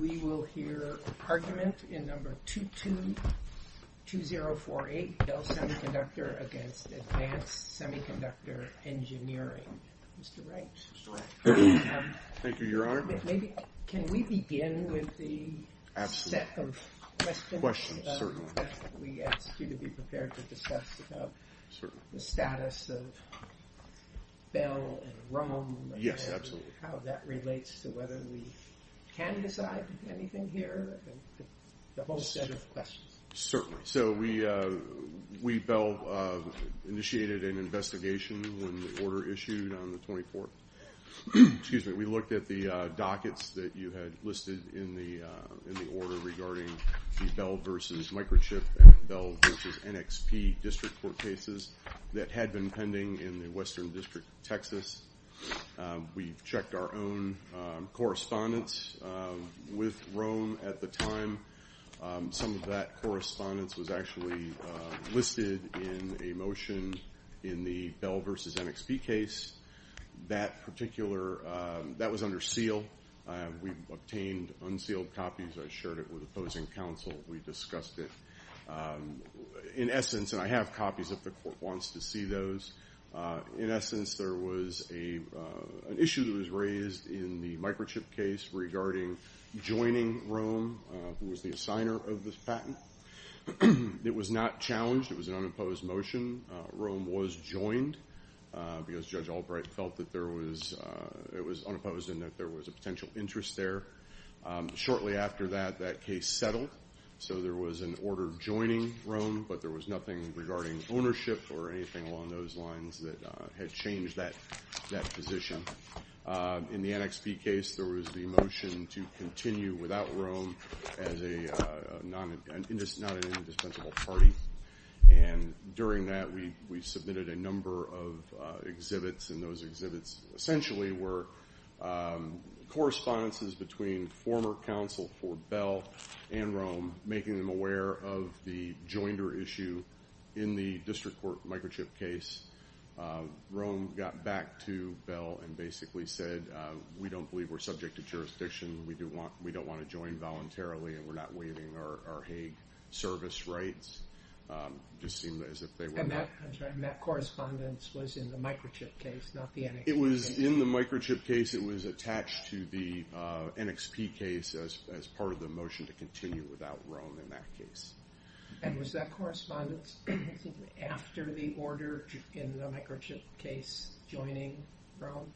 We will hear argument in number 222048, Bell Semiconductor v. Advanced Semiconductor Engineering. Mr. Wright. Thank you, Your Honor. Can we begin with the set of questions that we asked you to be prepared to discuss about the status of Bell and Rome? Yes, absolutely. How that relates to whether we can decide anything here and the whole set of questions. Certainly. So we, Bell, initiated an investigation when the order issued on the 24th. Excuse me. We looked at the dockets that you had listed in the order regarding the Bell v. Microchip and Bell v. NXP district court cases that had been pending in the Western District of Texas. We checked our own correspondence with Rome at the time. Some of that correspondence was actually listed in a motion in the Bell v. NXP case. That particular, that was under seal. We obtained unsealed copies. I shared it with opposing counsel. We discussed it. In essence, and I have copies if the court wants to see those. In essence, there was an issue that was raised in the microchip case regarding joining Rome, who was the assigner of this patent. It was not challenged. It was an unopposed motion. Rome was joined because Judge Albright felt that there was, it was unopposed and that there was a potential interest there. Shortly after that, that case settled. So there was an order joining Rome, but there was nothing regarding ownership or anything along those lines that had changed that position. In the NXP case, there was the motion to continue without Rome as a non-indispensable party. During that, we submitted a number of exhibits, and those exhibits essentially were correspondences between former counsel for Bell and Rome, making them aware of the joinder issue in the district court microchip case. Rome got back to Bell and basically said, we don't believe we're subject to jurisdiction. We don't want to join voluntarily, and we're not waiving our Hague service rights. And that correspondence was in the microchip case, not the NXP case? It was in the microchip case. It was attached to the NXP case as part of the motion to continue without Rome in that case. And was that correspondence after the order in the microchip case joining Rome?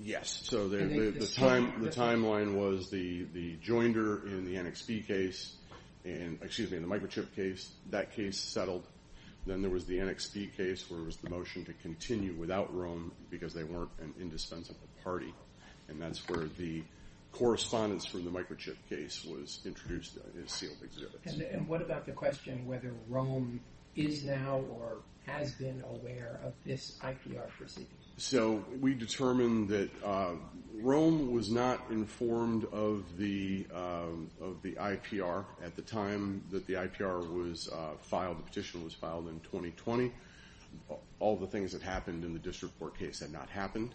Yes. The timeline was the joinder in the microchip case. That case settled. Then there was the NXP case, where it was the motion to continue without Rome because they weren't an indispensable party. And that's where the correspondence from the microchip case was introduced as sealed exhibits. And what about the question whether Rome is now or has been aware of this IPR proceeding? So we determined that Rome was not informed of the IPR at the time that the IPR was filed. The petition was filed in 2020. All the things that happened in the district court case had not happened.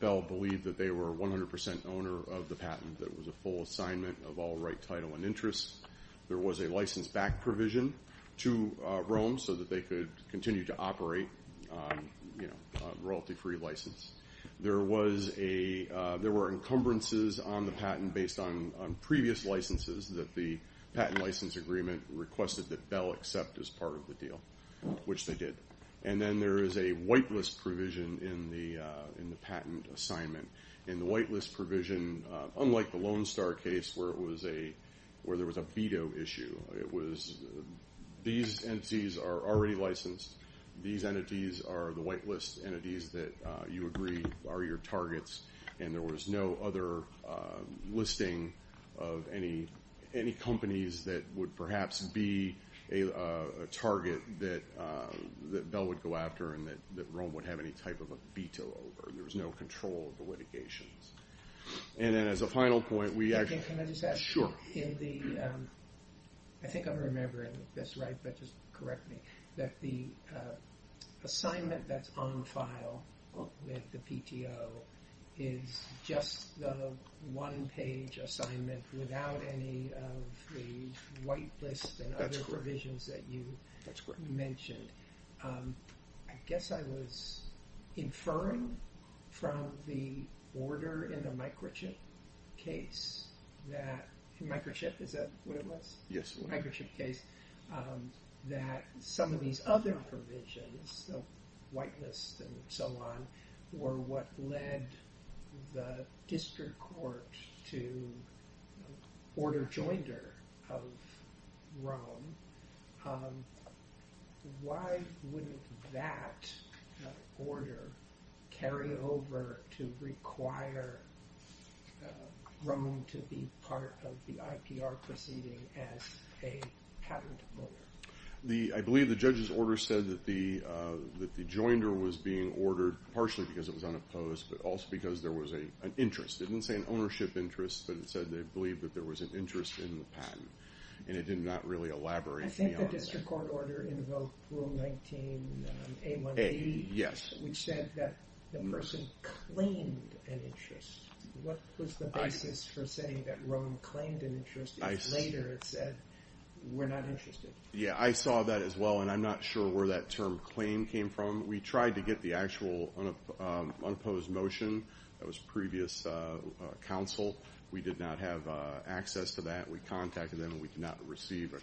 Bell believed that they were 100% owner of the patent, that it was a full assignment of all right, title, and interests. There was a license-back provision to Rome so that they could continue to operate a royalty-free license. There were encumbrances on the patent based on previous licenses that the patent license agreement requested that Bell accept as part of the deal, which they did. And then there is a whitelist provision in the patent assignment. And the whitelist provision, unlike the Lone Star case where there was a veto issue, these entities are already licensed. These entities are the whitelist entities that you agree are your targets. And there was no other listing of any companies that would perhaps be a target that Bell would go after and that Rome would have any type of a veto over. There was no control of the litigations. And then as a final point, we actually – Can I just add? Sure. In the – I think I'm remembering this right, but just correct me. That the assignment that's on file with the PTO is just the one-page assignment without any of the whitelists and other provisions that you mentioned. I guess I was inferring from the order in the microchip case that – microchip, is that what it was? Yes. Microchip case, that some of these other provisions, whitelist and so on, were what led the district court to order joinder of Rome. Why would that order carry over to require Rome to be part of the IPR proceeding as a patent holder? I believe the judge's order said that the joinder was being ordered partially because it was unopposed, but also because there was an interest. It didn't say an ownership interest, but it said they believed that there was an interest in the patent. And it did not really elaborate beyond that. I think the district court order invoked Rule 19A1B. Yes. Which said that the person claimed an interest. What was the basis for saying that Rome claimed an interest if later it said we're not interested? Yeah, I saw that as well, and I'm not sure where that term claim came from. We tried to get the actual unopposed motion. That was previous counsel. We did not have access to that. We contacted them, and we did not receive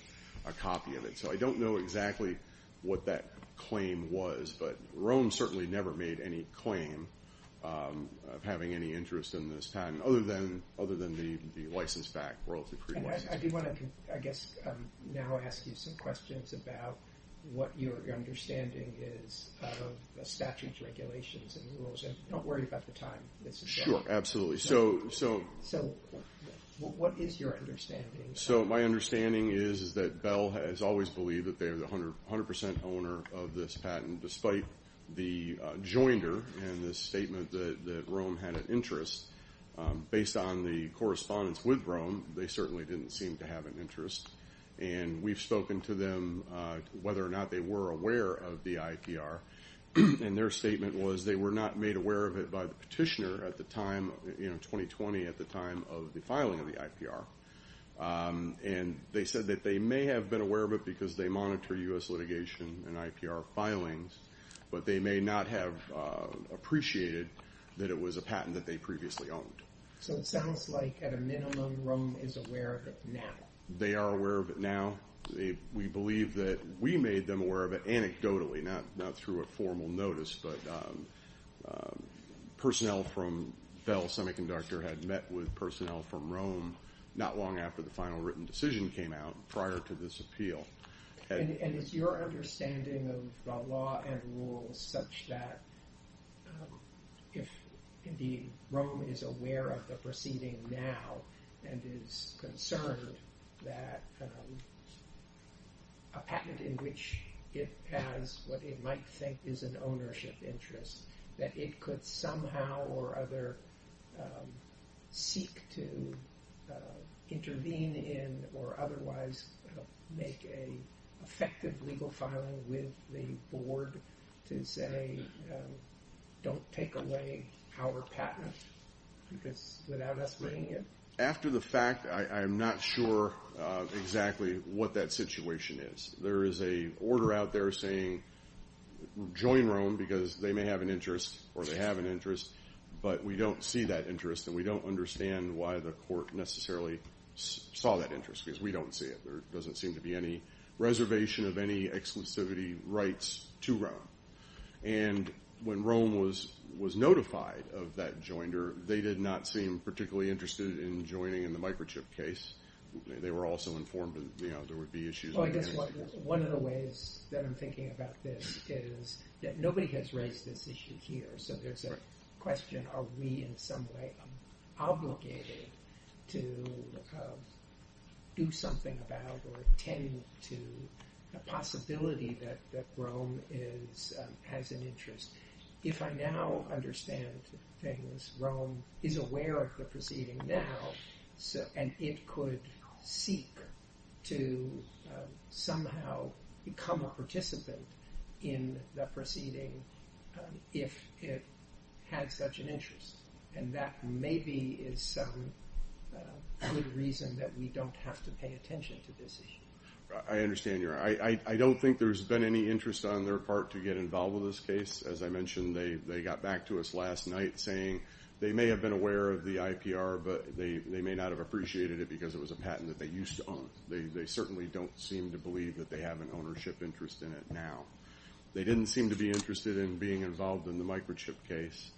a copy of it. So I don't know exactly what that claim was. But Rome certainly never made any claim of having any interest in this patent, other than the license back, royalty-free license. I do want to, I guess, now ask you some questions about what your understanding is of the statute's regulations and rules. And don't worry about the time. Sure, absolutely. So what is your understanding? So my understanding is that Bell has always believed that they are the 100% owner of this patent, despite the joinder and the statement that Rome had an interest. Based on the correspondence with Rome, they certainly didn't seem to have an interest. And we've spoken to them, whether or not they were aware of the IPR. And their statement was they were not made aware of it by the petitioner at the time, 2020, at the time of the filing of the IPR. And they said that they may have been aware of it because they monitor U.S. litigation and IPR filings, but they may not have appreciated that it was a patent that they previously owned. So it sounds like, at a minimum, Rome is aware of it now. They are aware of it now. We believe that we made them aware of it anecdotally, not through a formal notice. But personnel from Bell Semiconductor had met with personnel from Rome not long after the final written decision came out prior to this appeal. And is your understanding of the law and rule such that if, indeed, Rome is aware of the proceeding now and is concerned that a patent in which it has what it might think is an ownership interest, that it could somehow or other seek to intervene in or otherwise make an effective legal filing with the board to say, don't take away our patent without us bringing it? After the fact, I'm not sure exactly what that situation is. There is an order out there saying join Rome because they may have an interest or they have an interest, but we don't see that interest and we don't understand why the court necessarily saw that interest because we don't see it. There doesn't seem to be any reservation of any exclusivity rights to Rome. And when Rome was notified of that joinder, they did not seem particularly interested in joining in the microchip case. They were also informed that there would be issues. One of the ways that I'm thinking about this is that nobody has raised this issue here. So there's a question, are we in some way obligated to do something about or attend to the possibility that Rome has an interest? If I now understand things, Rome is aware of the proceeding now, and it could seek to somehow become a participant in the proceeding if it had such an interest. And that maybe is some good reason that we don't have to pay attention to this issue. I understand your – I don't think there's been any interest on their part to get involved in this case. As I mentioned, they got back to us last night saying they may have been aware of the IPR, but they may not have appreciated it because it was a patent that they used to own. They certainly don't seem to believe that they have an ownership interest in it now. They didn't seem to be interested in being involved in the microchip case.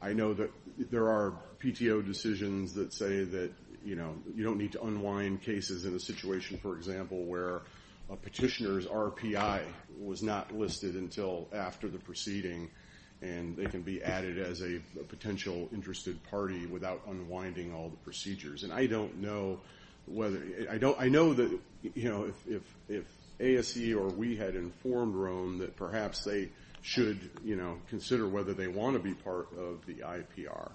I know that there are PTO decisions that say that you don't need to unwind cases in a situation, for example, where a petitioner's RPI was not listed until after the proceeding and they can be added as a potential interested party without unwinding all the procedures. And I don't know whether – I know that if ASE or we had informed Rome that perhaps they should consider whether they want to be part of the IPR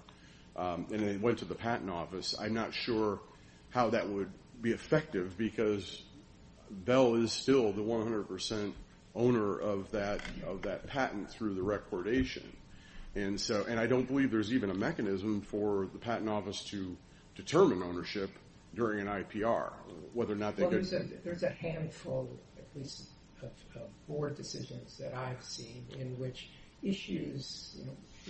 and they went to the Patent Office, I'm not sure how that would be effective because Bell is still the 100 percent owner of that patent through the recordation. And I don't believe there's even a mechanism for the Patent Office to determine ownership during an IPR. There's a handful of board decisions that I've seen in which issues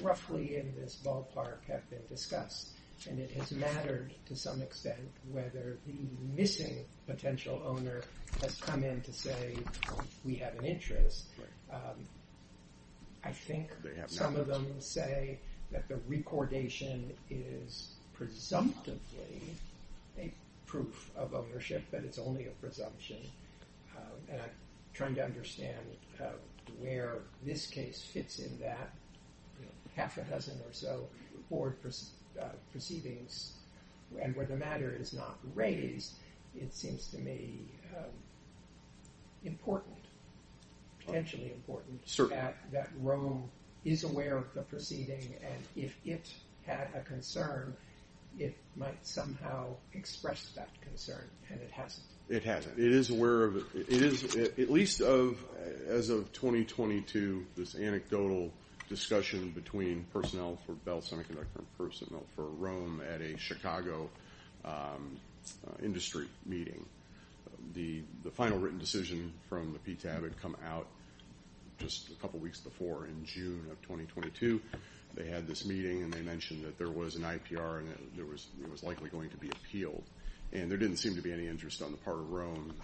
roughly in this ballpark have been discussed and it has mattered to some extent whether the missing potential owner has come in to say we have an interest. I think some of them say that the recordation is presumptively a proof of ownership, that it's only a presumption. And I'm trying to understand where this case fits in that. Half a dozen or so board proceedings and where the matter is not raised, it seems to me important. Potentially important. Certainly. That Rome is aware of the proceeding and if it had a concern, it might somehow express that concern. And it hasn't. It hasn't. It is aware of it. It is, at least as of 2022, this anecdotal discussion between personnel for Bell Semiconductor and personnel for Rome at a Chicago industry meeting. The final written decision from the PTAB had come out just a couple weeks before in June of 2022. They had this meeting and they mentioned that there was an IPR and it was likely going to be appealed. And there didn't seem to be any interest on the part of Rome.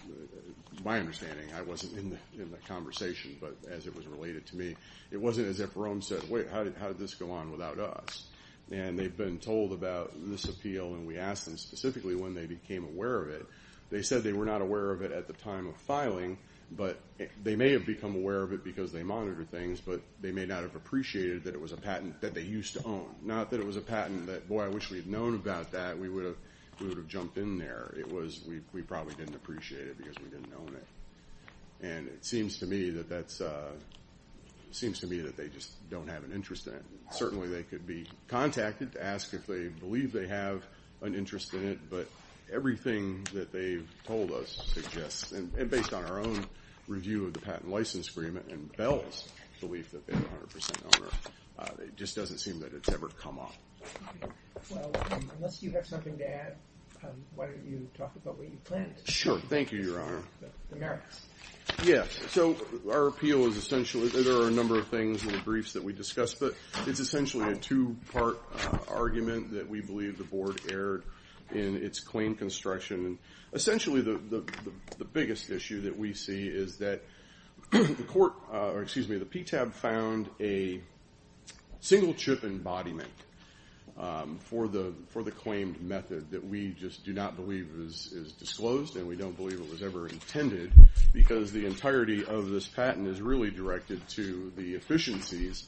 My understanding, I wasn't in the conversation, but as it was related to me, it wasn't as if Rome said, wait, how did this go on without us? And they've been told about this appeal and we asked them specifically when they became aware of it. They said they were not aware of it at the time of filing, but they may have become aware of it because they monitored things, but they may not have appreciated that it was a patent that they used to own. Not that it was a patent that, boy, I wish we had known about that. We would have jumped in there. It was we probably didn't appreciate it because we didn't own it. And it seems to me that they just don't have an interest in it. Certainly, they could be contacted to ask if they believe they have an interest in it, but everything that they've told us suggests, and based on our own review of the patent license agreement and Bell's belief that they have 100% ownership, it just doesn't seem that it's ever come up. Well, unless you have something to add, why don't you talk about what you plan to do? Sure. Thank you, Your Honor. Yeah, so our appeal is essentially, there are a number of things in the briefs that we discussed, but it's essentially a two-part argument that we believe the Board erred in its claim construction. Essentially, the biggest issue that we see is that the PTAB found a single-chip embodiment for the claimed method that we just do not believe is disclosed and we don't believe it was ever intended because the entirety of this patent is really directed to the efficiencies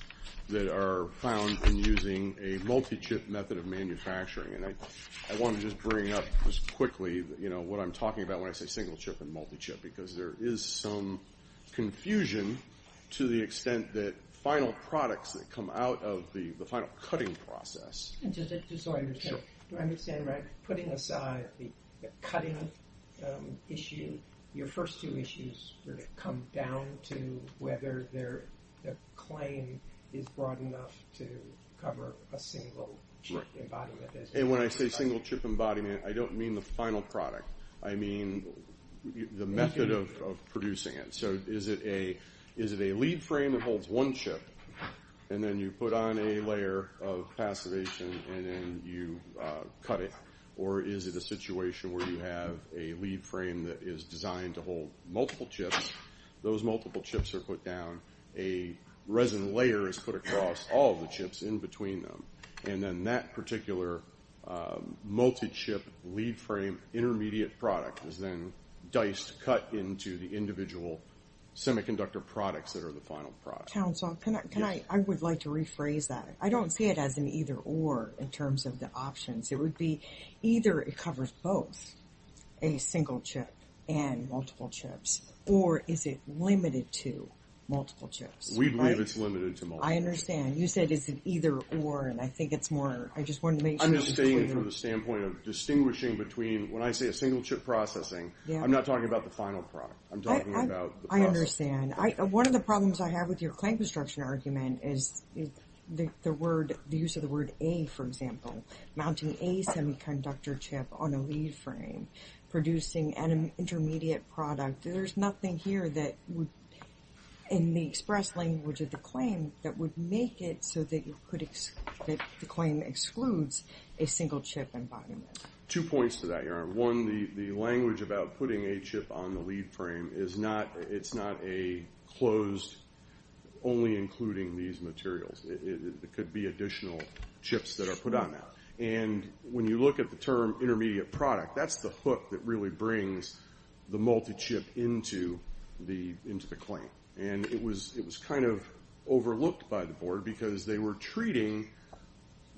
that are found in using a multi-chip method of manufacturing. And I want to just bring up just quickly what I'm talking about when I say single-chip and multi-chip because there is some confusion to the extent that final products that come out of the final cutting process. And just so I understand, do I understand right, putting aside the cutting issue, your first two issues really come down to whether the claim is broad enough to cover a single-chip embodiment. And when I say single-chip embodiment, I don't mean the final product. I mean the method of producing it. So is it a lead frame that holds one chip and then you put on a layer of passivation and then you cut it? Or is it a situation where you have a lead frame that is designed to hold multiple chips? Those multiple chips are put down. A resin layer is put across all of the chips in between them. And then that particular multi-chip lead frame intermediate product is then diced, cut into the individual semiconductor products that are the final product. Council, I would like to rephrase that. I don't see it as an either-or in terms of the options. It would be either it covers both a single-chip and multiple chips, or is it limited to multiple chips? We believe it's limited to multiple chips. I understand. You said it's an either-or, and I think it's more. I just wanted to make sure. I'm just stating it from the standpoint of distinguishing between, when I say a single-chip processing, I'm not talking about the final product. I'm talking about the process. I understand. One of the problems I have with your claim construction argument is the use of the word A, for example. Mounting a semiconductor chip on a lead frame, producing an intermediate product. There's nothing here that would, in the express language of the claim, that would make it so that the claim excludes a single-chip environment. Two points to that, Your Honor. One, the language about putting a chip on the lead frame, it's not a closed, only including these materials. It could be additional chips that are put on that. When you look at the term intermediate product, that's the hook that really brings the multi-chip into the claim. It was kind of overlooked by the Board because they were treating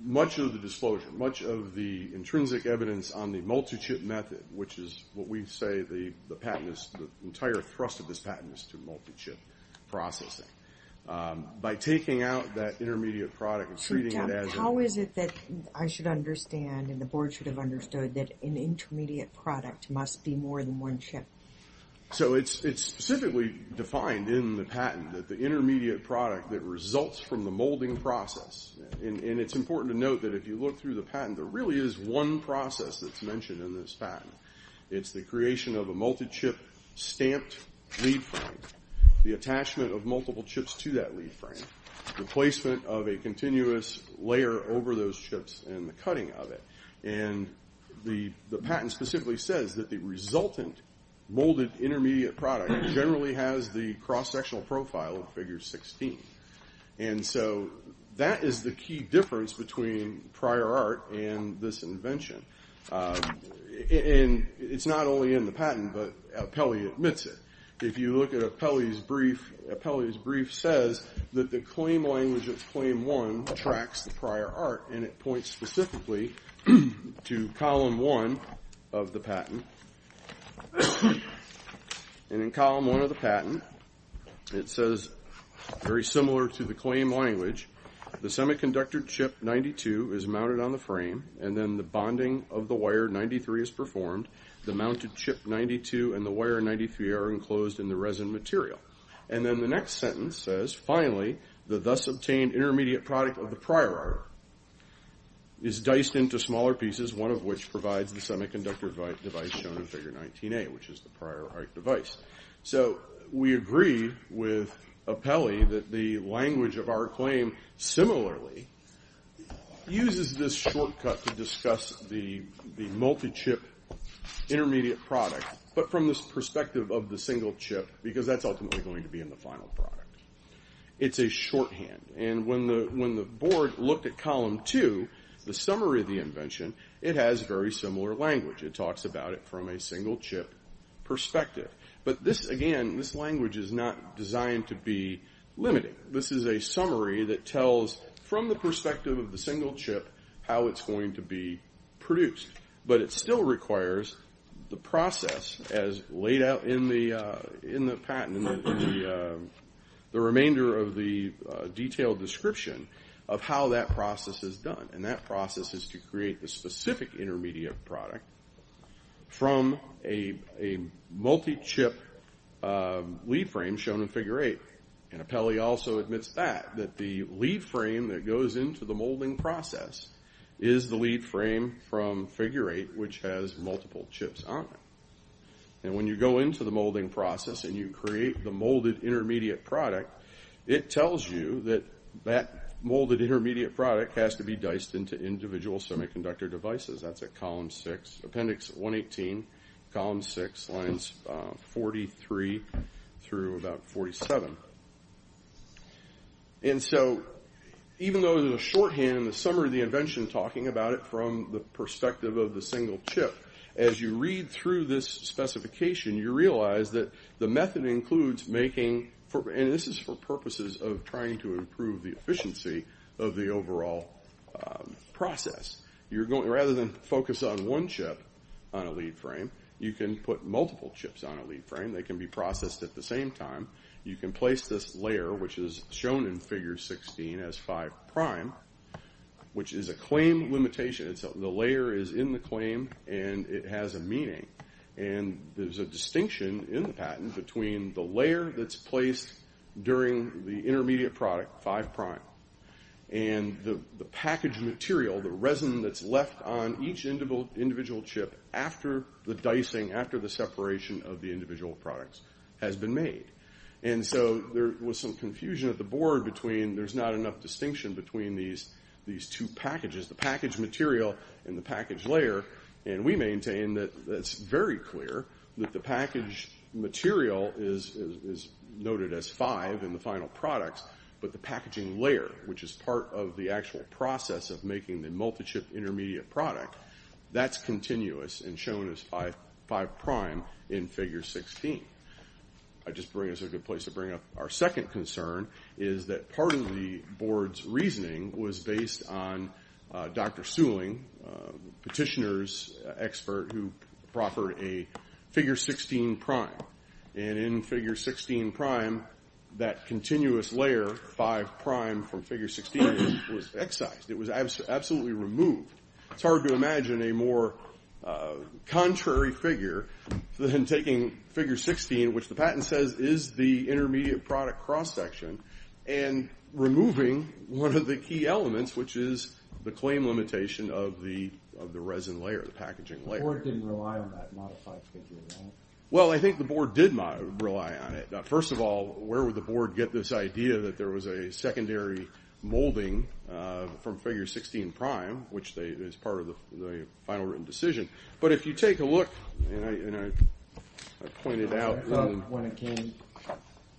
much of the disclosure, much of the intrinsic evidence on the multi-chip method, which is what we say the patent is, the entire thrust of this patent is to multi-chip processing. By taking out that intermediate product and treating it as a— So, Jeff, how is it that I should understand and the Board should have understood that an intermediate product must be more than one chip? So, it's specifically defined in the patent that the intermediate product that results from the molding process, and it's important to note that if you look through the patent, there really is one process that's mentioned in this patent. It's the creation of a multi-chip stamped lead frame, the attachment of multiple chips to that lead frame, the placement of a continuous layer over those chips, and the cutting of it. And the patent specifically says that the resultant molded intermediate product generally has the cross-sectional profile of figure 16. And so, that is the key difference between prior art and this invention. And it's not only in the patent, but Apelli admits it. If you look at Apelli's brief, Apelli's brief says that the claim language of Claim 1 tracks the prior art, and it points specifically to Column 1 of the patent. And in Column 1 of the patent, it says, very similar to the claim language, the semiconductor chip 92 is mounted on the frame, and then the bonding of the wire 93 is performed. The mounted chip 92 and the wire 93 are enclosed in the resin material. And then the next sentence says, finally, the thus obtained intermediate product of the prior art is diced into smaller pieces, one of which provides the semiconductor device shown in Figure 19A, which is the prior art device. So, we agree with Apelli that the language of our claim similarly uses this shortcut to discuss the multi-chip intermediate product, but from this perspective of the single chip, because that's ultimately going to be in the final product. It's a shorthand. And when the board looked at Column 2, the summary of the invention, it has very similar language. It talks about it from a single chip perspective. But this, again, this language is not designed to be limited. This is a summary that tells, from the perspective of the single chip, how it's going to be produced. But it still requires the process as laid out in the patent, the remainder of the detailed description of how that process is done. And that process is to create the specific intermediate product from a multi-chip lead frame shown in Figure 8. And Apelli also admits that, that the lead frame that goes into the molding process is the lead frame from Figure 8, which has multiple chips on it. And when you go into the molding process and you create the molded intermediate product, it tells you that that molded intermediate product has to be diced into individual semiconductor devices. That's at Column 6, Appendix 118, Column 6, Lines 43 through about 47. And so, even though there's a shorthand in the summary of the invention talking about it from the perspective of the single chip, as you read through this specification, you realize that the method includes making, and this is for purposes of trying to improve the efficiency of the overall process. Rather than focus on one chip on a lead frame, you can put multiple chips on a lead frame. They can be processed at the same time. You can place this layer, which is shown in Figure 16 as 5', which is a claim limitation. The layer is in the claim and it has a meaning. And there's a distinction in the patent between the layer that's placed during the intermediate product, 5', and the package material, the resin that's left on each individual chip after the dicing, after the separation of the individual products, has been made. And so there was some confusion at the board between there's not enough distinction between these two packages, the package material and the package layer. And we maintain that it's very clear that the package material is noted as 5' in the final products, but the packaging layer, which is part of the actual process of making the multi-chip intermediate product, that's continuous and shown as 5' in Figure 16. I just think it's a good place to bring up our second concern, is that part of the board's reasoning was based on Dr. Seuling, a petitioner's expert, who proffered a Figure 16'. And in Figure 16', that continuous layer, 5' from Figure 16, was excised. It was absolutely removed. It's hard to imagine a more contrary figure than taking Figure 16, which the patent says is the intermediate product cross-section, and removing one of the key elements, which is the claim limitation of the resin layer, the packaging layer. The board didn't rely on that modified figure, right? Well, I think the board did rely on it. First of all, where would the board get this idea that there was a secondary molding from Figure 16', which is part of the final written decision? But if you take a look, and I pointed out... When it came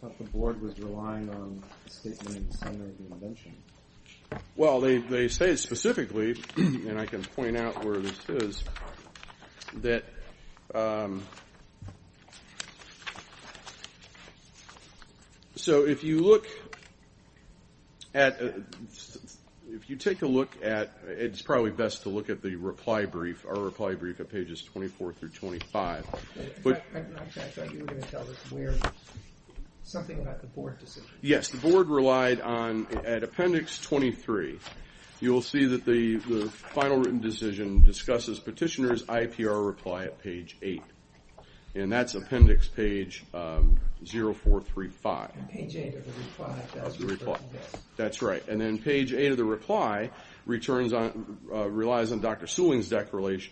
up, the board was relying on a statement in the summary of the invention. Well, they say specifically, and I can point out where this is, that... So if you look at... If you take a look at... It's probably best to look at the reply brief, our reply brief at pages 24 through 25. Actually, I thought you were going to tell us where... Something about the board decision. Yes, the board relied on... At appendix 23, you will see that the final written decision discusses petitioner's IPR reply at page 8. And that's appendix page 0435. Page 8 of the reply. That's right. And then page 8 of the reply relies on Dr. Sewing's declaration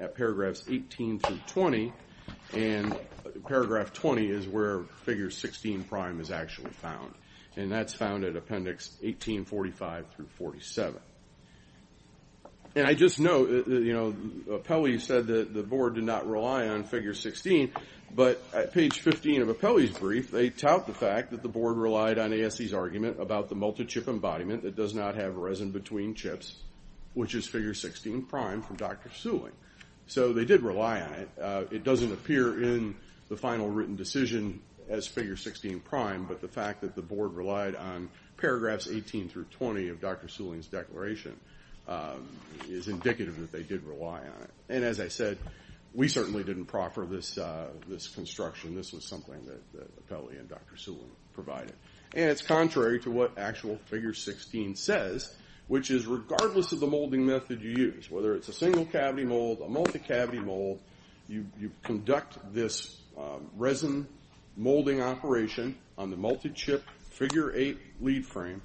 at paragraphs 18 through 20. And paragraph 20 is where Figure 16' is actually found. And that's found at appendix 1845 through 47. And I just note, you know, Apelli said that the board did not rely on Figure 16, but at page 15 of Apelli's brief, they tout the fact that the board relied on ASC's argument about the multi-chip embodiment that does not have resin between chips, which is Figure 16' from Dr. Sewing. So they did rely on it. It doesn't appear in the final written decision as Figure 16', but the fact that the board relied on paragraphs 18 through 20 of Dr. Sewing's declaration is indicative that they did rely on it. And as I said, we certainly didn't proffer this construction. This was something that Apelli and Dr. Sewing provided. And it's contrary to what actual Figure 16 says, which is regardless of the molding method you use, whether it's a single cavity mold, a multi-cavity mold, you conduct this resin molding operation on the multi-chip Figure 8 lead frame,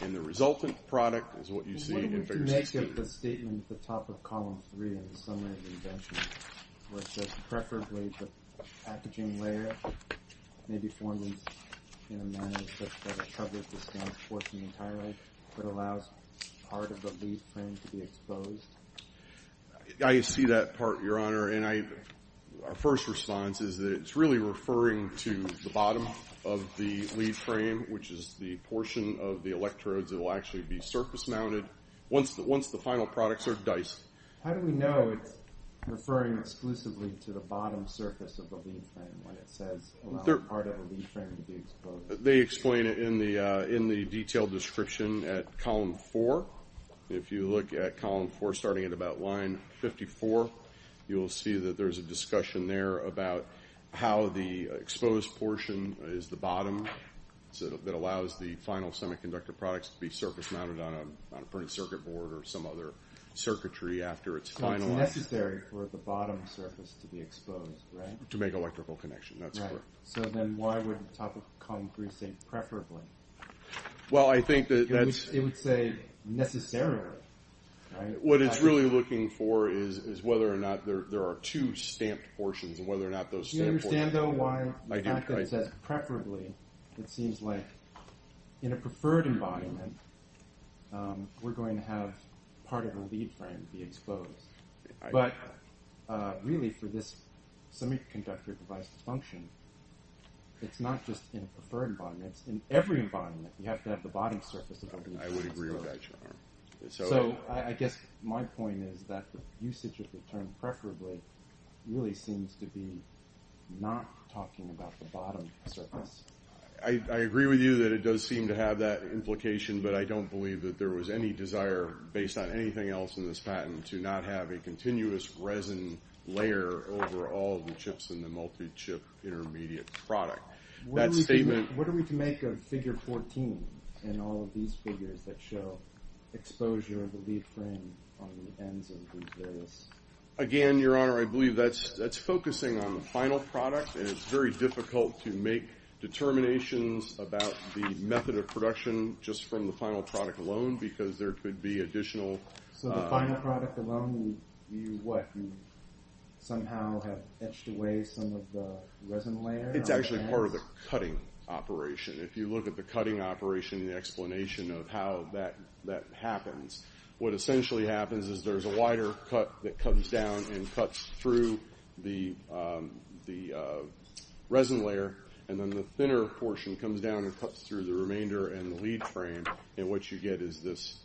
and the resultant product is what you see in Figure 16. Let's look at the statement at the top of Column 3 in the summary of the invention, where it says preferably the packaging layer may be formed in a manner such that a chubbier discounts portion entirely, but allows part of the lead frame to be exposed. I see that part, Your Honor. And our first response is that it's really referring to the bottom of the lead frame, which is the portion of the electrodes that will actually be surface-mounted. Once the final products are diced. How do we know it's referring exclusively to the bottom surface of the lead frame when it says allow part of the lead frame to be exposed? They explain it in the detailed description at Column 4. If you look at Column 4, starting at about line 54, you'll see that there's a discussion there about how the exposed portion is the bottom that allows the final semiconductor products to be surface-mounted on a printed circuit board or some other circuitry after it's finalized. So it's necessary for the bottom surface to be exposed, right? To make electrical connection, that's correct. So then why would the top of Column 3 say preferably? Well, I think that that's… It would say necessarily, right? What it's really looking for is whether or not there are two stamped portions and whether or not those stamped portions… It seems like in a preferred environment we're going to have part of the lead frame be exposed. But really for this semiconductor device to function, it's not just in a preferred environment, it's in every environment. You have to have the bottom surface of the lead frame exposed. I would agree with that, John. So I guess my point is that the usage of the term preferably really seems to be not talking about the bottom surface. I agree with you that it does seem to have that implication, but I don't believe that there was any desire, based on anything else in this patent, to not have a continuous resin layer over all the chips in the multi-chip intermediate product. What are we to make of Figure 14 and all of these figures that show exposure of the lead frame on the ends of these various… Again, Your Honor, I believe that's focusing on the final product, and it's very difficult to make determinations about the method of production just from the final product alone because there could be additional… So the final product alone, you what? You somehow have etched away some of the resin layer on the ends? It's actually part of the cutting operation. If you look at the cutting operation and the explanation of how that happens, what essentially happens is there's a wider cut that comes down and cuts through the resin layer, and then the thinner portion comes down and cuts through the remainder and the lead frame, and what you get is this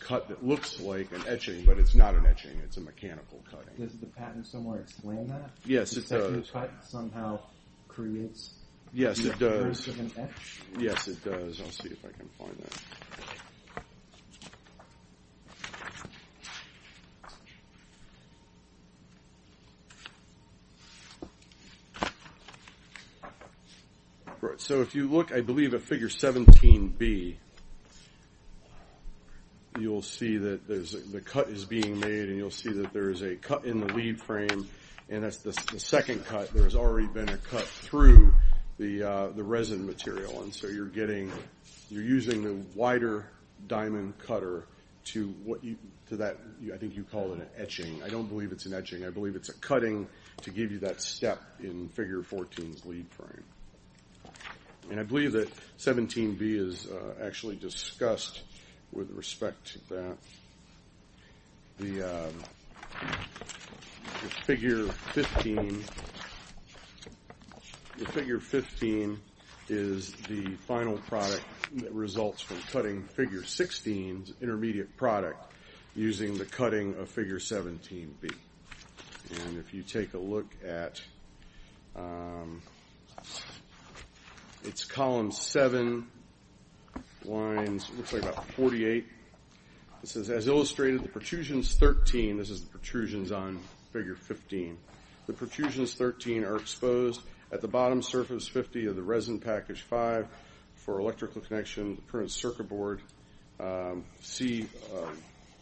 cut that looks like an etching, but it's not an etching. It's a mechanical cutting. Does the patent somewhere explain that? Yes, it does. The cut somehow creates the appearance of an etch? Yes, it does. I'll see if I can find that. So if you look, I believe, at Figure 17B, you'll see that the cut is being made, and you'll see that there is a cut in the lead frame, and that's the second cut. There's already been a cut through the resin material, and so you're using the wider diamond cutter to what I think you call an etching. I don't believe it's an etching. I believe it's a cutting to give you that step in Figure 14's lead frame, and I believe that 17B is actually discussed with respect to that. The Figure 15 is the final product that results from cutting Figure 16's intermediate product using the cutting of Figure 17B, and if you take a look at its column 7 lines, it looks like about 48. It says, as illustrated, the protrusions 13, this is the protrusions on Figure 15, the protrusions 13 are exposed at the bottom surface 50 of the resin package 5 for electrical connection, the current circuit board, see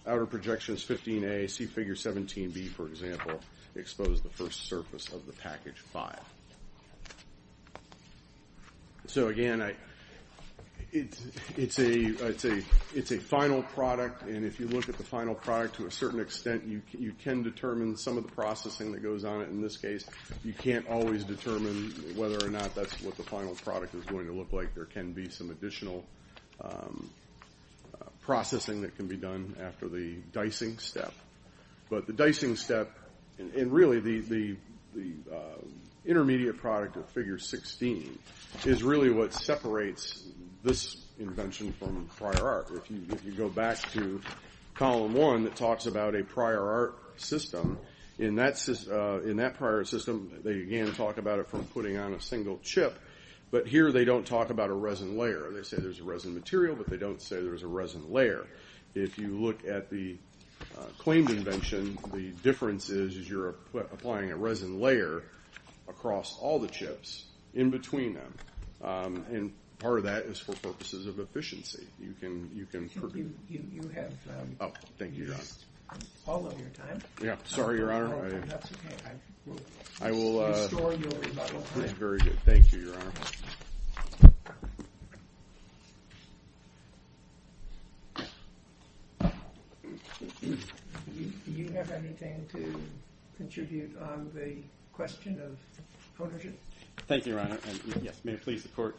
outer projections 15A, see Figure 17B, for example, expose the first surface of the package 5. So, again, it's a final product, and if you look at the final product to a certain extent, you can determine some of the processing that goes on it. In this case, you can't always determine whether or not that's what the final product is going to look like. There can be some additional processing that can be done after the dicing step, but the dicing step and really the intermediate product of Figure 16 is really what separates this invention from prior art. If you go back to column 1, it talks about a prior art system. In that prior art system, they again talk about it from putting on a single chip, but here they don't talk about a resin layer. They say there's a resin material, but they don't say there's a resin layer. If you look at the claimed invention, the difference is you're applying a resin layer across all the chips in between them, and part of that is for purposes of efficiency. You can produce. You have all of your time. Sorry, Your Honor. That's okay. I will restore your rebuttal. Very good. Thank you, Your Honor. Do you have anything to contribute on the question of ownership? Thank you, Your Honor. Yes, may it please the Court.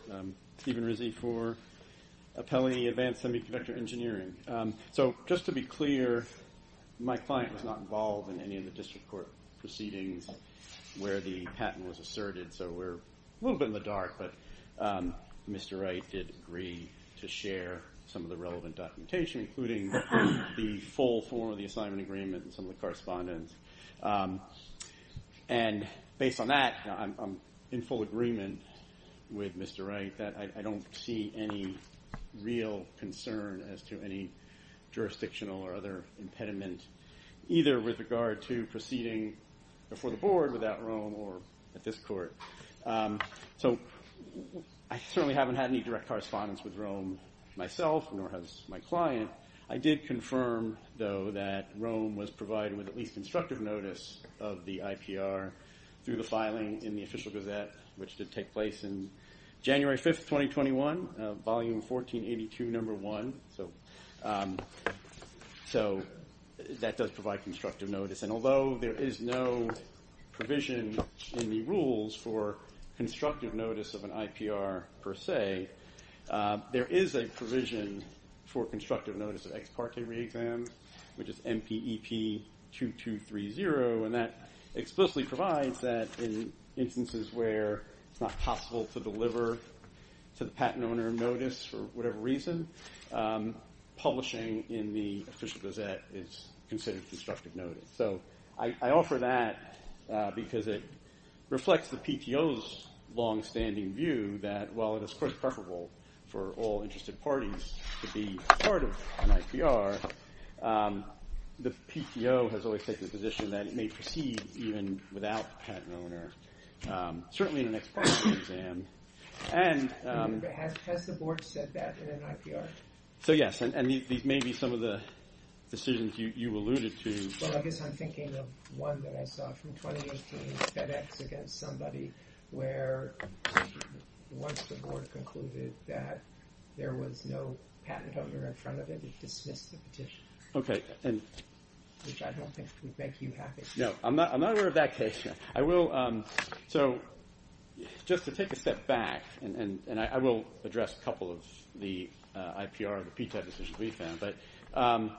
Stephen Rizzi for Appellee Advanced Semiconductor Engineering. Just to be clear, my client was not involved in any of the district court proceedings where the patent was asserted, so we're a little bit in the dark, but Mr. Wright did agree to share some of the relevant documentation, including the full form of the assignment agreement and some of the correspondence. And based on that, I'm in full agreement with Mr. Wright that I don't see any real concern as to any jurisdictional or other impediment, either with regard to proceeding before the Board without Rome or at this court. So I certainly haven't had any direct correspondence with Rome myself, nor has my client. I did confirm, though, that Rome was provided with at least constructive notice of the IPR through the filing in the Official Gazette, which did take place in January 5, 2021, Volume 1482, Number 1. So that does provide constructive notice. And although there is no provision in the rules for constructive notice of an IPR per se, there is a provision for constructive notice of ex parte re-exams, which is MPEP 2230, and that explicitly provides that in instances where it's not possible to deliver to the patent owner notice for whatever reason, publishing in the Official Gazette is considered constructive notice. So I offer that because it reflects the PTO's longstanding view that, while it is, of course, preferable for all interested parties to be part of an IPR, the PTO has always taken the position that it may proceed even without the patent owner, certainly in an ex parte exam. Has the Board said that in an IPR? So yes, and these may be some of the decisions you alluded to. Well, I guess I'm thinking of one that I saw from 2018, FedEx against somebody, where once the Board concluded that there was no patent owner in front of it, it dismissed the petition, which I don't think would make you happy. No, I'm not aware of that case. So just to take a step back, and I will address a couple of the IPR, the PTAB decisions we found,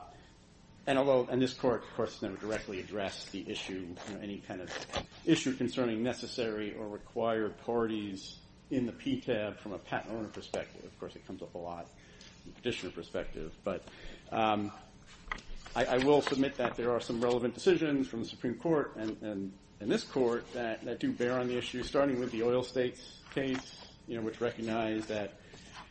and this Court, of course, has never directly addressed the issue, any kind of issue concerning necessary or required parties in the PTAB from a patent owner perspective. Of course, it comes up a lot from a petitioner perspective. But I will submit that there are some relevant decisions from the Supreme Court and this Court that do bear on the issue, starting with the oil states case, which recognized that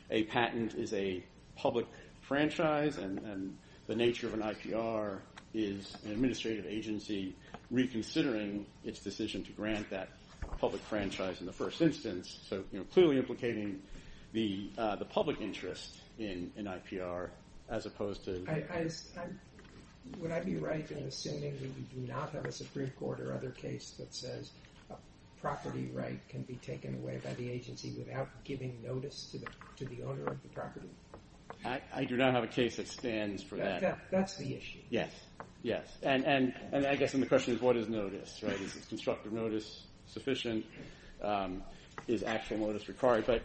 a patent is a public franchise, and the nature of an IPR is an administrative agency reconsidering its decision to grant that public franchise in the first instance, so clearly implicating the public interest in IPR as opposed to… Would I be right in assuming that we do not have a Supreme Court or other case that says a property right can be taken away by the agency without giving notice to the owner of the property? I do not have a case that stands for that. That's the issue. Yes, yes. And I guess then the question is, what is notice? Is constructive notice sufficient? Is actual notice required?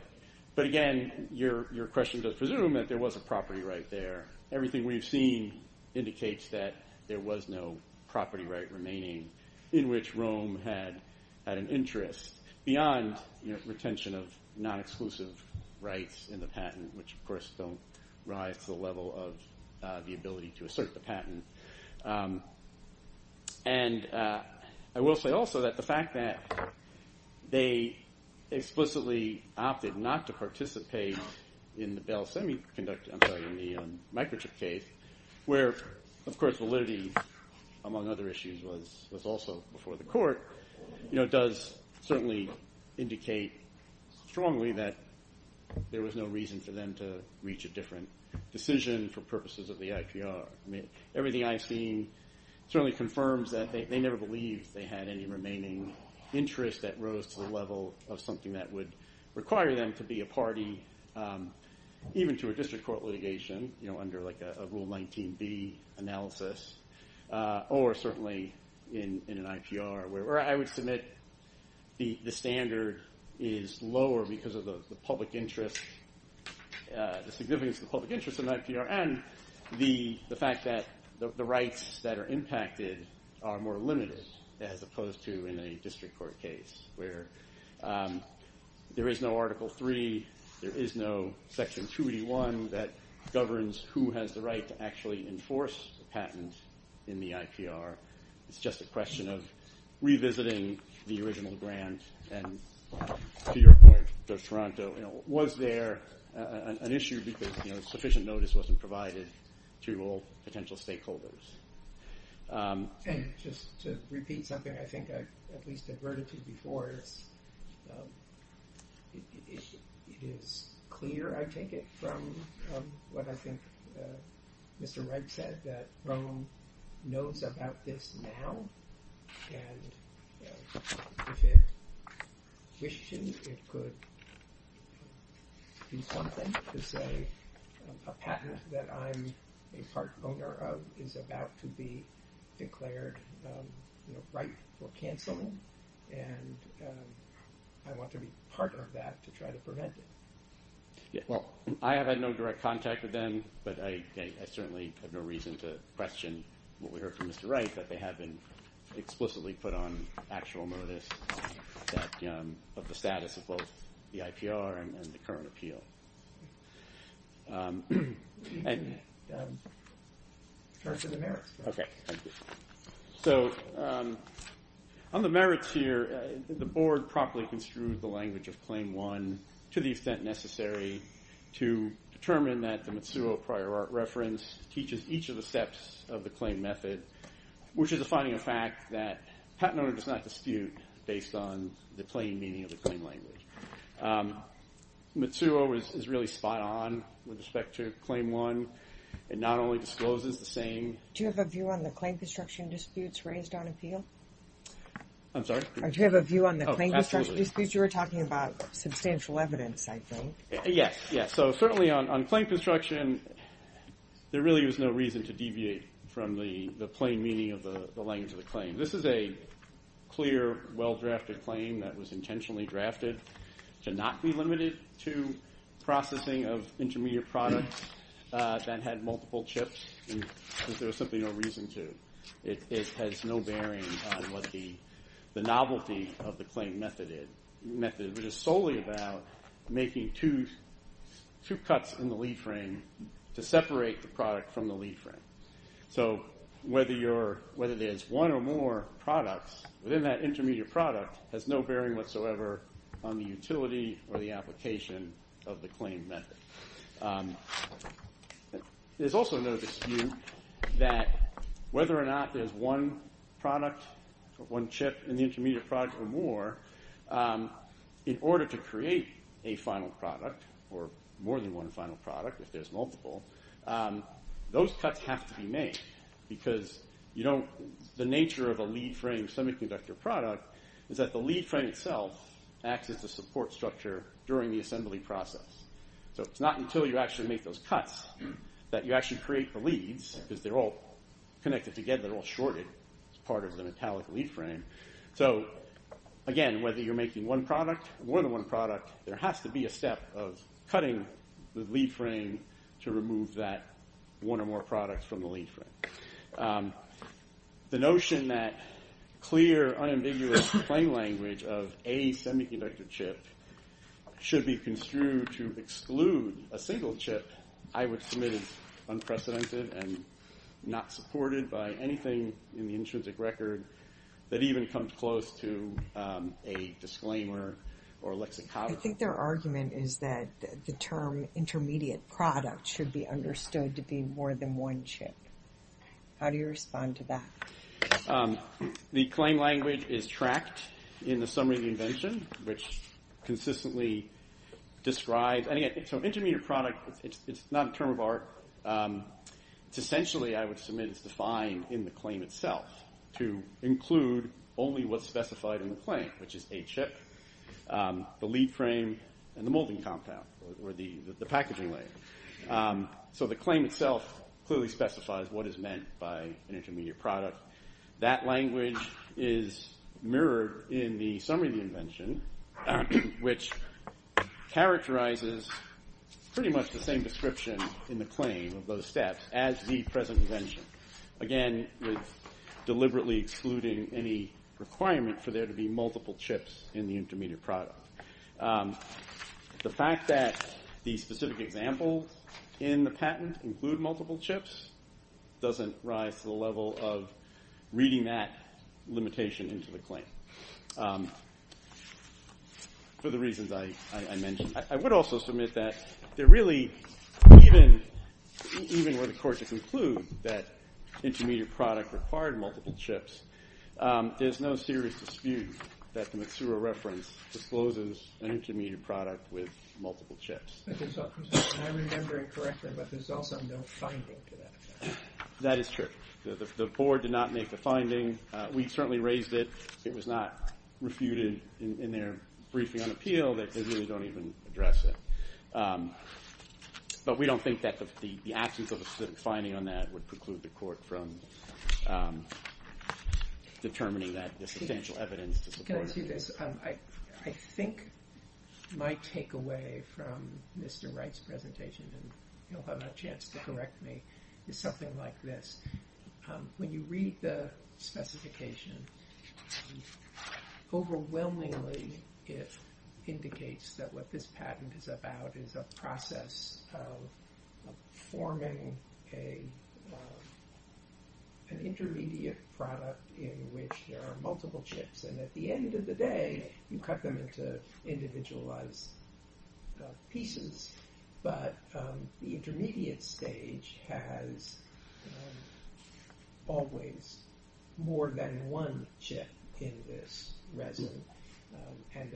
But again, your question does presume that there was a property right there. Everything we've seen indicates that there was no property right remaining in which Rome had an interest beyond retention of non-exclusive rights in the patent, which, of course, don't rise to the level of the ability to assert the patent. And I will say also that the fact that they explicitly opted not to participate in the Bell Semiconductor, I'm sorry, in the microchip case, where, of course, validity among other issues was also before the court, does certainly indicate strongly that there was no reason for them to reach a different decision for purposes of the IPR. Everything I've seen certainly confirms that they never believed they had any remaining interest that rose to the level of something that would require them to be a party even to a district court litigation under a Rule 19b analysis or certainly in an IPR, where I would submit the standard is lower because of the public interest, the significance of the public interest in an IPR and the fact that the rights that are impacted are more limited as opposed to in a district court case where there is no Article 3, there is no Section 281 that governs who has the right to actually enforce the patent in the IPR. It's just a question of revisiting the original grant. And to your point, Judge Toronto, was there an issue because sufficient notice wasn't provided to all potential stakeholders? And just to repeat something I think I at least have heard it before, it is clear, I take it, from what I think Mr. Wright said, that Rome knows about this now and if it wished to, it could do something to say a patent that I'm a part owner of is about to be declared right for cancelling and I want to be part of that to try to prevent it. Well, I have had no direct contact with them, but I certainly have no reason to question what we heard from Mr. Wright, that they have been explicitly put on actual notice of the status of both the IPR and the current appeal. So, on the merits here, the Board properly construed the language of Claim 1 to the extent necessary to determine that the Matsuo prior art reference teaches each of the steps of the claim method, which is defining a fact that a patent owner does not dispute based on the plain meaning of the claim language. Matsuo is really spot on with respect to Claim 1. It not only discloses the same... Do you have a view on the claim construction disputes raised on appeal? I'm sorry? Do you have a view on the claim construction disputes? Oh, absolutely. You were talking about substantial evidence, I think. Yes, yes. So, certainly on claim construction, there really is no reason to deviate from the plain meaning of the language of the claim. This is a clear, well-drafted claim that was intentionally drafted to not be limited to processing of intermediate products that had multiple chips, because there was simply no reason to. It has no bearing on what the novelty of the claim method is. The method is solely about making two cuts in the lead frame to separate the product from the lead frame. So, whether there's one or more products within that intermediate product has no bearing whatsoever on the utility or the application of the claim method. There's also no dispute that whether or not there's one product, one chip in the intermediate product or more, in order to create a final product or more than one final product, if there's multiple, those cuts have to be made, because the nature of a lead frame semiconductor product is that the lead frame itself acts as the support structure during the assembly process. So, it's not until you actually make those cuts that you actually create the leads, because they're all connected together, they're all shorted as part of the metallic lead frame. So, again, whether you're making one product or more than one product, there has to be a step of cutting the lead frame to remove that one or more product from the lead frame. The notion that clear, unambiguous claim language of a semiconductor chip should be construed to exclude a single chip I would submit is unprecedented and not supported by anything in the intrinsic record that even comes close to a disclaimer or lexicography. I think their argument is that the term intermediate product should be understood to be more than one chip. How do you respond to that? The claim language is tracked in the summary of the invention, which consistently describes... So, intermediate product, it's not a term of art. It's essentially, I would submit, it's defined in the claim itself to include only what's specified in the claim, which is a chip, the lead frame, and the molding compound, or the packaging layer. So, the claim itself clearly specifies what is meant by an intermediate product. That language is mirrored in the summary of the invention, which characterizes pretty much the same description in the claim of those steps as the present invention. Again, with deliberately excluding any requirement for there to be multiple chips in the intermediate product. The fact that the specific examples in the patent include multiple chips doesn't rise to the level of reading that limitation into the claim. For the reasons I mentioned. I would also submit that there really, even with the court to conclude that intermediate product required multiple chips, there's no serious dispute that the Matsuura reference discloses an intermediate product with multiple chips. I remember it correctly, but there's also no finding to that. That is true. The board did not make the finding. We certainly raised it. It was not refuted in their briefing on appeal. They really don't even address it. But we don't think that the absence of a specific finding on that would preclude the court from determining that there's substantial evidence to support it. Can I say this? I think my takeaway from Mr. Wright's presentation, and you'll have a chance to correct me, is something like this. When you read the specification, overwhelmingly it indicates that what this patent is about is a process of forming an intermediate product in which there are multiple chips. And at the end of the day, you cut them into individualized pieces. But the intermediate stage has always more than one chip in this resin. And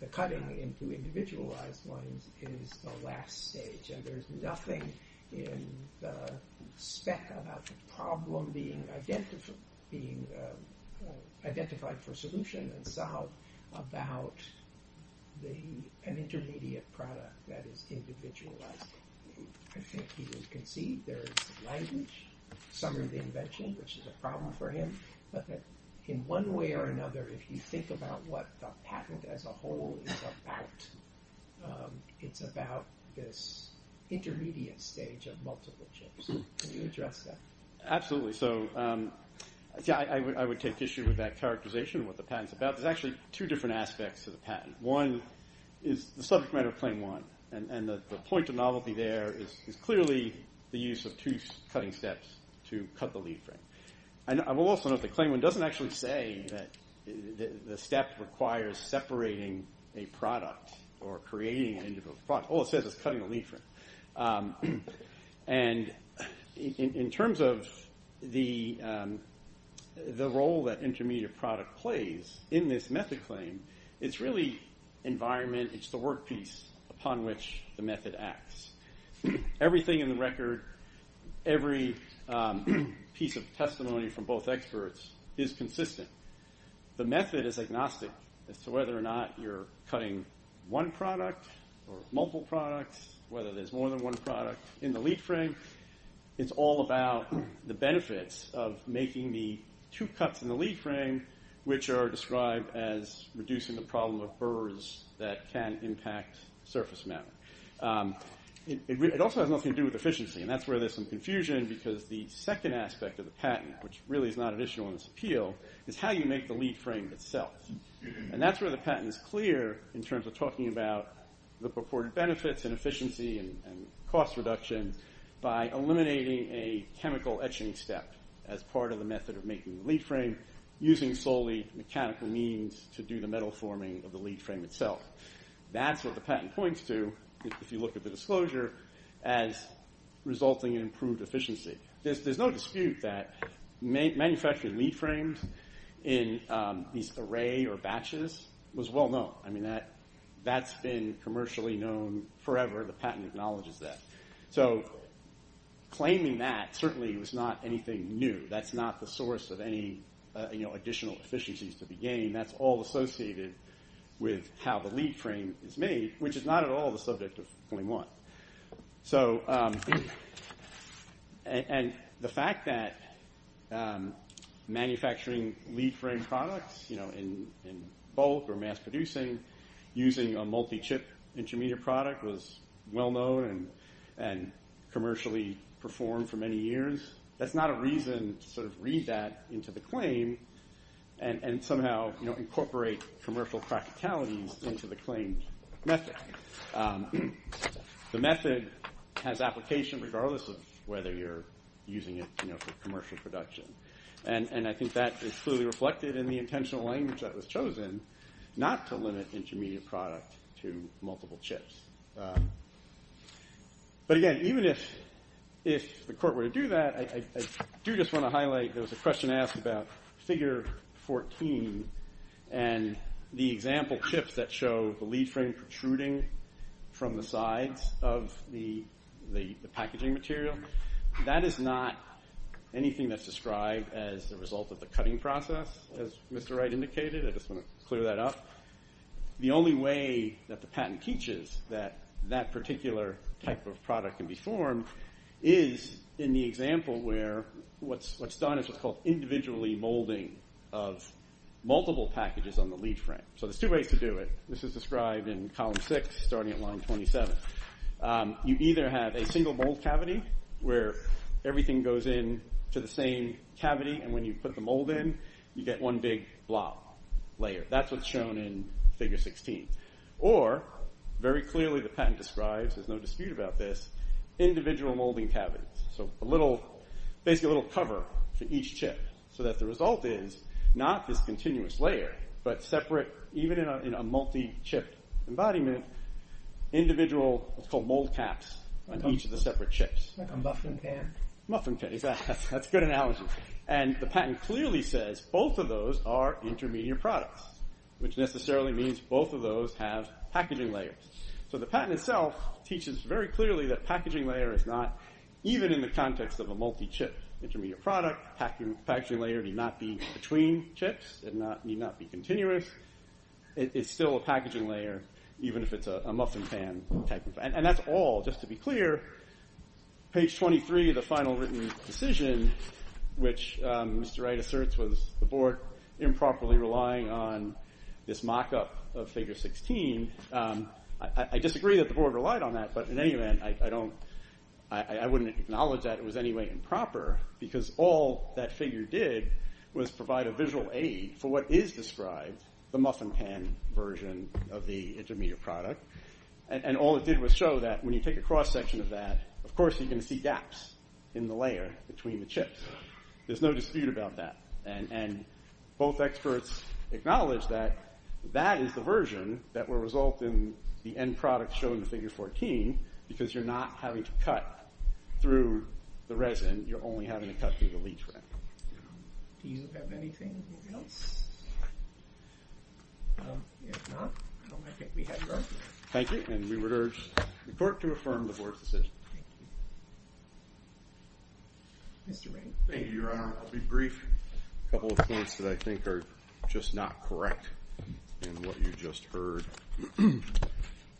the cutting into individualized ones is the last stage. And there's nothing in the spec about the problem being identified for solution about an intermediate product that is individualized. I think he has conceived there is language, summary of the invention, which is a problem for him. But in one way or another, if you think about what the patent as a whole is about, it's about this intermediate stage of multiple chips. Can you address that? Absolutely. I would take issue with that characterization of what the patent is about. There's actually two different aspects to the patent. One is the subject matter of Claim 1. And the point of novelty there is clearly the use of two cutting steps to cut the lead frame. I will also note that Claim 1 doesn't actually say that the step requires separating a product or creating an individual product. All it says is cutting the lead frame. And in terms of the role that intermediate product plays in this method claim, it's really environment, it's the work piece upon which the method acts. Everything in the record, every piece of testimony from both experts is consistent. The method is agnostic as to whether or not you're cutting one product or multiple products, whether there's more than one product in the lead frame. It's all about the benefits of making the two cuts in the lead frame, which are described as reducing the problem of burrs that can impact surface matter. It also has nothing to do with efficiency, and that's where there's some confusion because the second aspect of the patent, which really is not an issue on this appeal, is how you make the lead frame itself. And that's where the patent is clear in terms of talking about the purported benefits and efficiency and cost reduction by eliminating a chemical etching step as part of the method of making the lead frame using solely mechanical means to do the metal forming of the lead frame itself. That's what the patent points to if you look at the disclosure as resulting in improved efficiency. There's no dispute that manufacturing lead frames in these array or batches was well known. I mean, that's been commercially known forever. The patent acknowledges that. So claiming that certainly was not anything new. That's not the source of any additional efficiencies to be gained. That's all associated with how the lead frame is made, which is not at all the subject of claim one. And the fact that manufacturing lead frame products in bulk or mass producing using a multi-chip intermediate product was well known and commercially performed for many years, that's not a reason to sort of read that into the claim and somehow incorporate commercial practicalities into the claim method. The method has application regardless of whether you're using it for commercial production. And I think that is clearly reflected in the intentional language that was chosen not to limit intermediate product to multiple chips. But again, even if the court were to do that, I do just want to highlight there was a question asked about figure 14 and the example chips that show the lead frame protruding from the sides of the packaging material. That is not anything that's described as the result of the cutting process. As Mr. Wright indicated, I just want to clear that up. The only way that the patent teaches that that particular type of product can be formed is in the example where what's done is what's called individually molding of multiple packages on the lead frame. So there's two ways to do it. This is described in column six starting at line 27. You either have a single mold cavity where everything goes in to the same cavity and when you put the mold in, you get one big blob layer. That's what's shown in figure 16. Or very clearly the patent describes, there's no dispute about this, individual molding cavities. Basically a little cover for each chip so that the result is not this continuous layer but separate, even in a multi-chip embodiment, individual what's called mold caps on each of the separate chips. Like a muffin pan. Muffin pan. Exactly. That's a good analogy. The patent clearly says both of those are intermediate products, which necessarily means both of those have packaging layers. So the patent itself teaches very clearly that packaging layer is not, even in the context of a multi-chip intermediate product, packaging layer need not be between chips. It need not be continuous. It's still a packaging layer even if it's a muffin pan. And that's all. Just to be clear, page 23 of the final written decision, which Mr. Wright asserts was the board improperly relying on this mock-up of figure 16, I disagree that the board relied on that, but in any event I wouldn't acknowledge that it was in any way improper because all that figure did was provide a visual aid for what is described the muffin pan version of the intermediate product. And all it did was show that when you take a cross-section of that, of course you're going to see gaps in the layer between the chips. There's no dispute about that. And both experts acknowledge that that is the version that will result in the end product showing the figure 14 because you're not having to cut through the resin. You're only having to cut through the leach ring. Do you have anything else? If not, I think we have your motion. Thank you. And we would urge the court to affirm the board's decision. Thank you. Mr. Wright. Thank you, Your Honor. I'll be brief. A couple of points that I think are just not correct in what you just heard.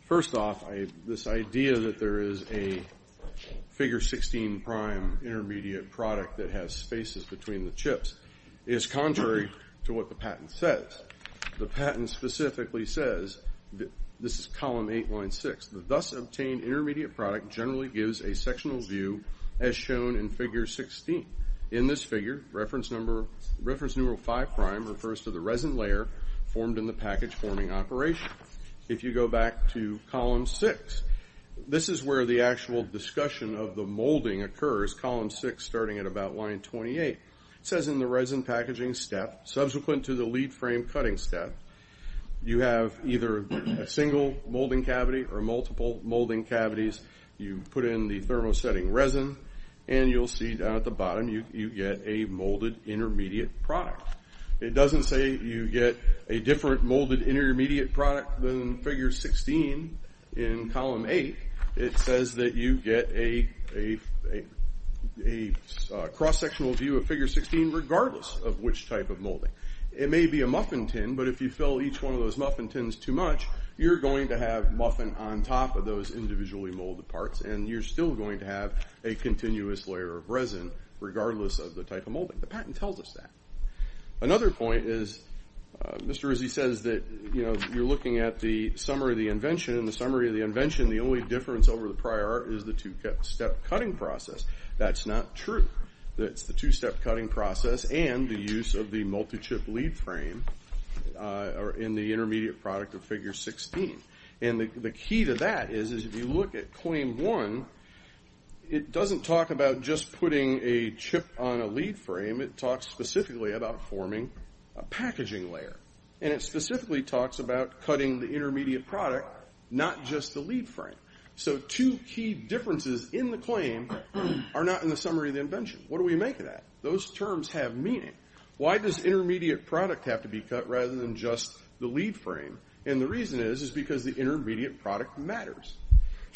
First off, this idea that there is a figure 16 prime intermediate product that has spaces between the chips is contrary to what the patent says. The patent specifically says, this is column 8, line 6, the thus obtained intermediate product generally gives a sectional view as shown in figure 16. In this figure, reference number 5 prime refers to the resin layer formed in the package forming operation. If you go back to column 6, this is where the actual discussion of the molding occurs, column 6 starting at about line 28. It says in the resin packaging step, subsequent to the lead frame cutting step, you have either a single molding cavity or multiple molding cavities. You put in the thermosetting resin, and you'll see down at the bottom you get a molded intermediate product. It doesn't say you get a different molded intermediate product than figure 16 in column 8. It says that you get a cross-sectional view of figure 16 regardless of which type of molding. It may be a muffin tin, but if you fill each one of those muffin tins too much, you're going to have muffin on top of those individually molded parts, and you're still going to have a continuous layer of resin regardless of the type of molding. The patent tells us that. Another point is Mr. Rizzi says that you're looking at the summary of the invention. In the summary of the invention, the only difference over the prior art is the two-step cutting process. That's not true. It's the two-step cutting process and the use of the multi-chip lead frame in the intermediate product of figure 16. The key to that is if you look at claim 1, it doesn't talk about just putting a chip on a lead frame. It talks specifically about forming a packaging layer, and it specifically talks about cutting the intermediate product, not just the lead frame. So two key differences in the claim are not in the summary of the invention. What do we make of that? Those terms have meaning. Why does intermediate product have to be cut rather than just the lead frame? The reason is because the intermediate product matters.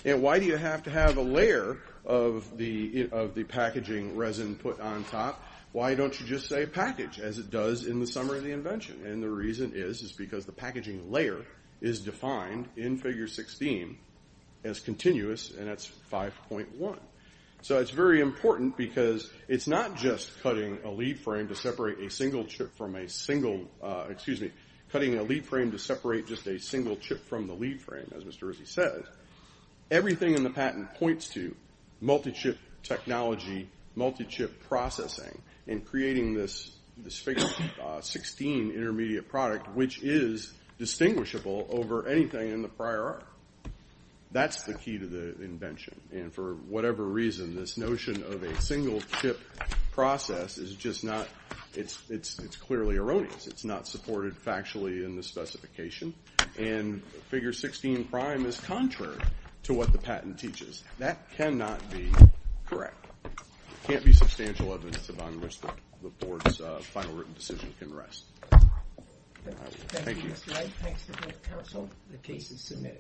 Why do you have to have a layer of the packaging resin put on top? Why don't you just say package as it does in the summary of the invention? The reason is because the packaging layer is defined in figure 16 as continuous, and that's 5.1. So it's very important because it's not just cutting a lead frame to separate a single chip from a single, excuse me, cutting a lead frame to separate just a single chip from the lead frame, as Mr. Rizzi said. Everything in the patent points to multi-chip technology, multi-chip processing, and creating this figure 16 intermediate product, which is distinguishable over anything in the prior art. That's the key to the invention, and for whatever reason this notion of a single-chip process is just not, it's clearly erroneous. It's not supported factually in the specification, and figure 16 prime is contrary to what the patent teaches. That cannot be correct. It can't be substantial evidence of on which the board's final written decision can rest. Thank you. Thank you, Mr. Wright. Thanks to both counsel. The case is submitted.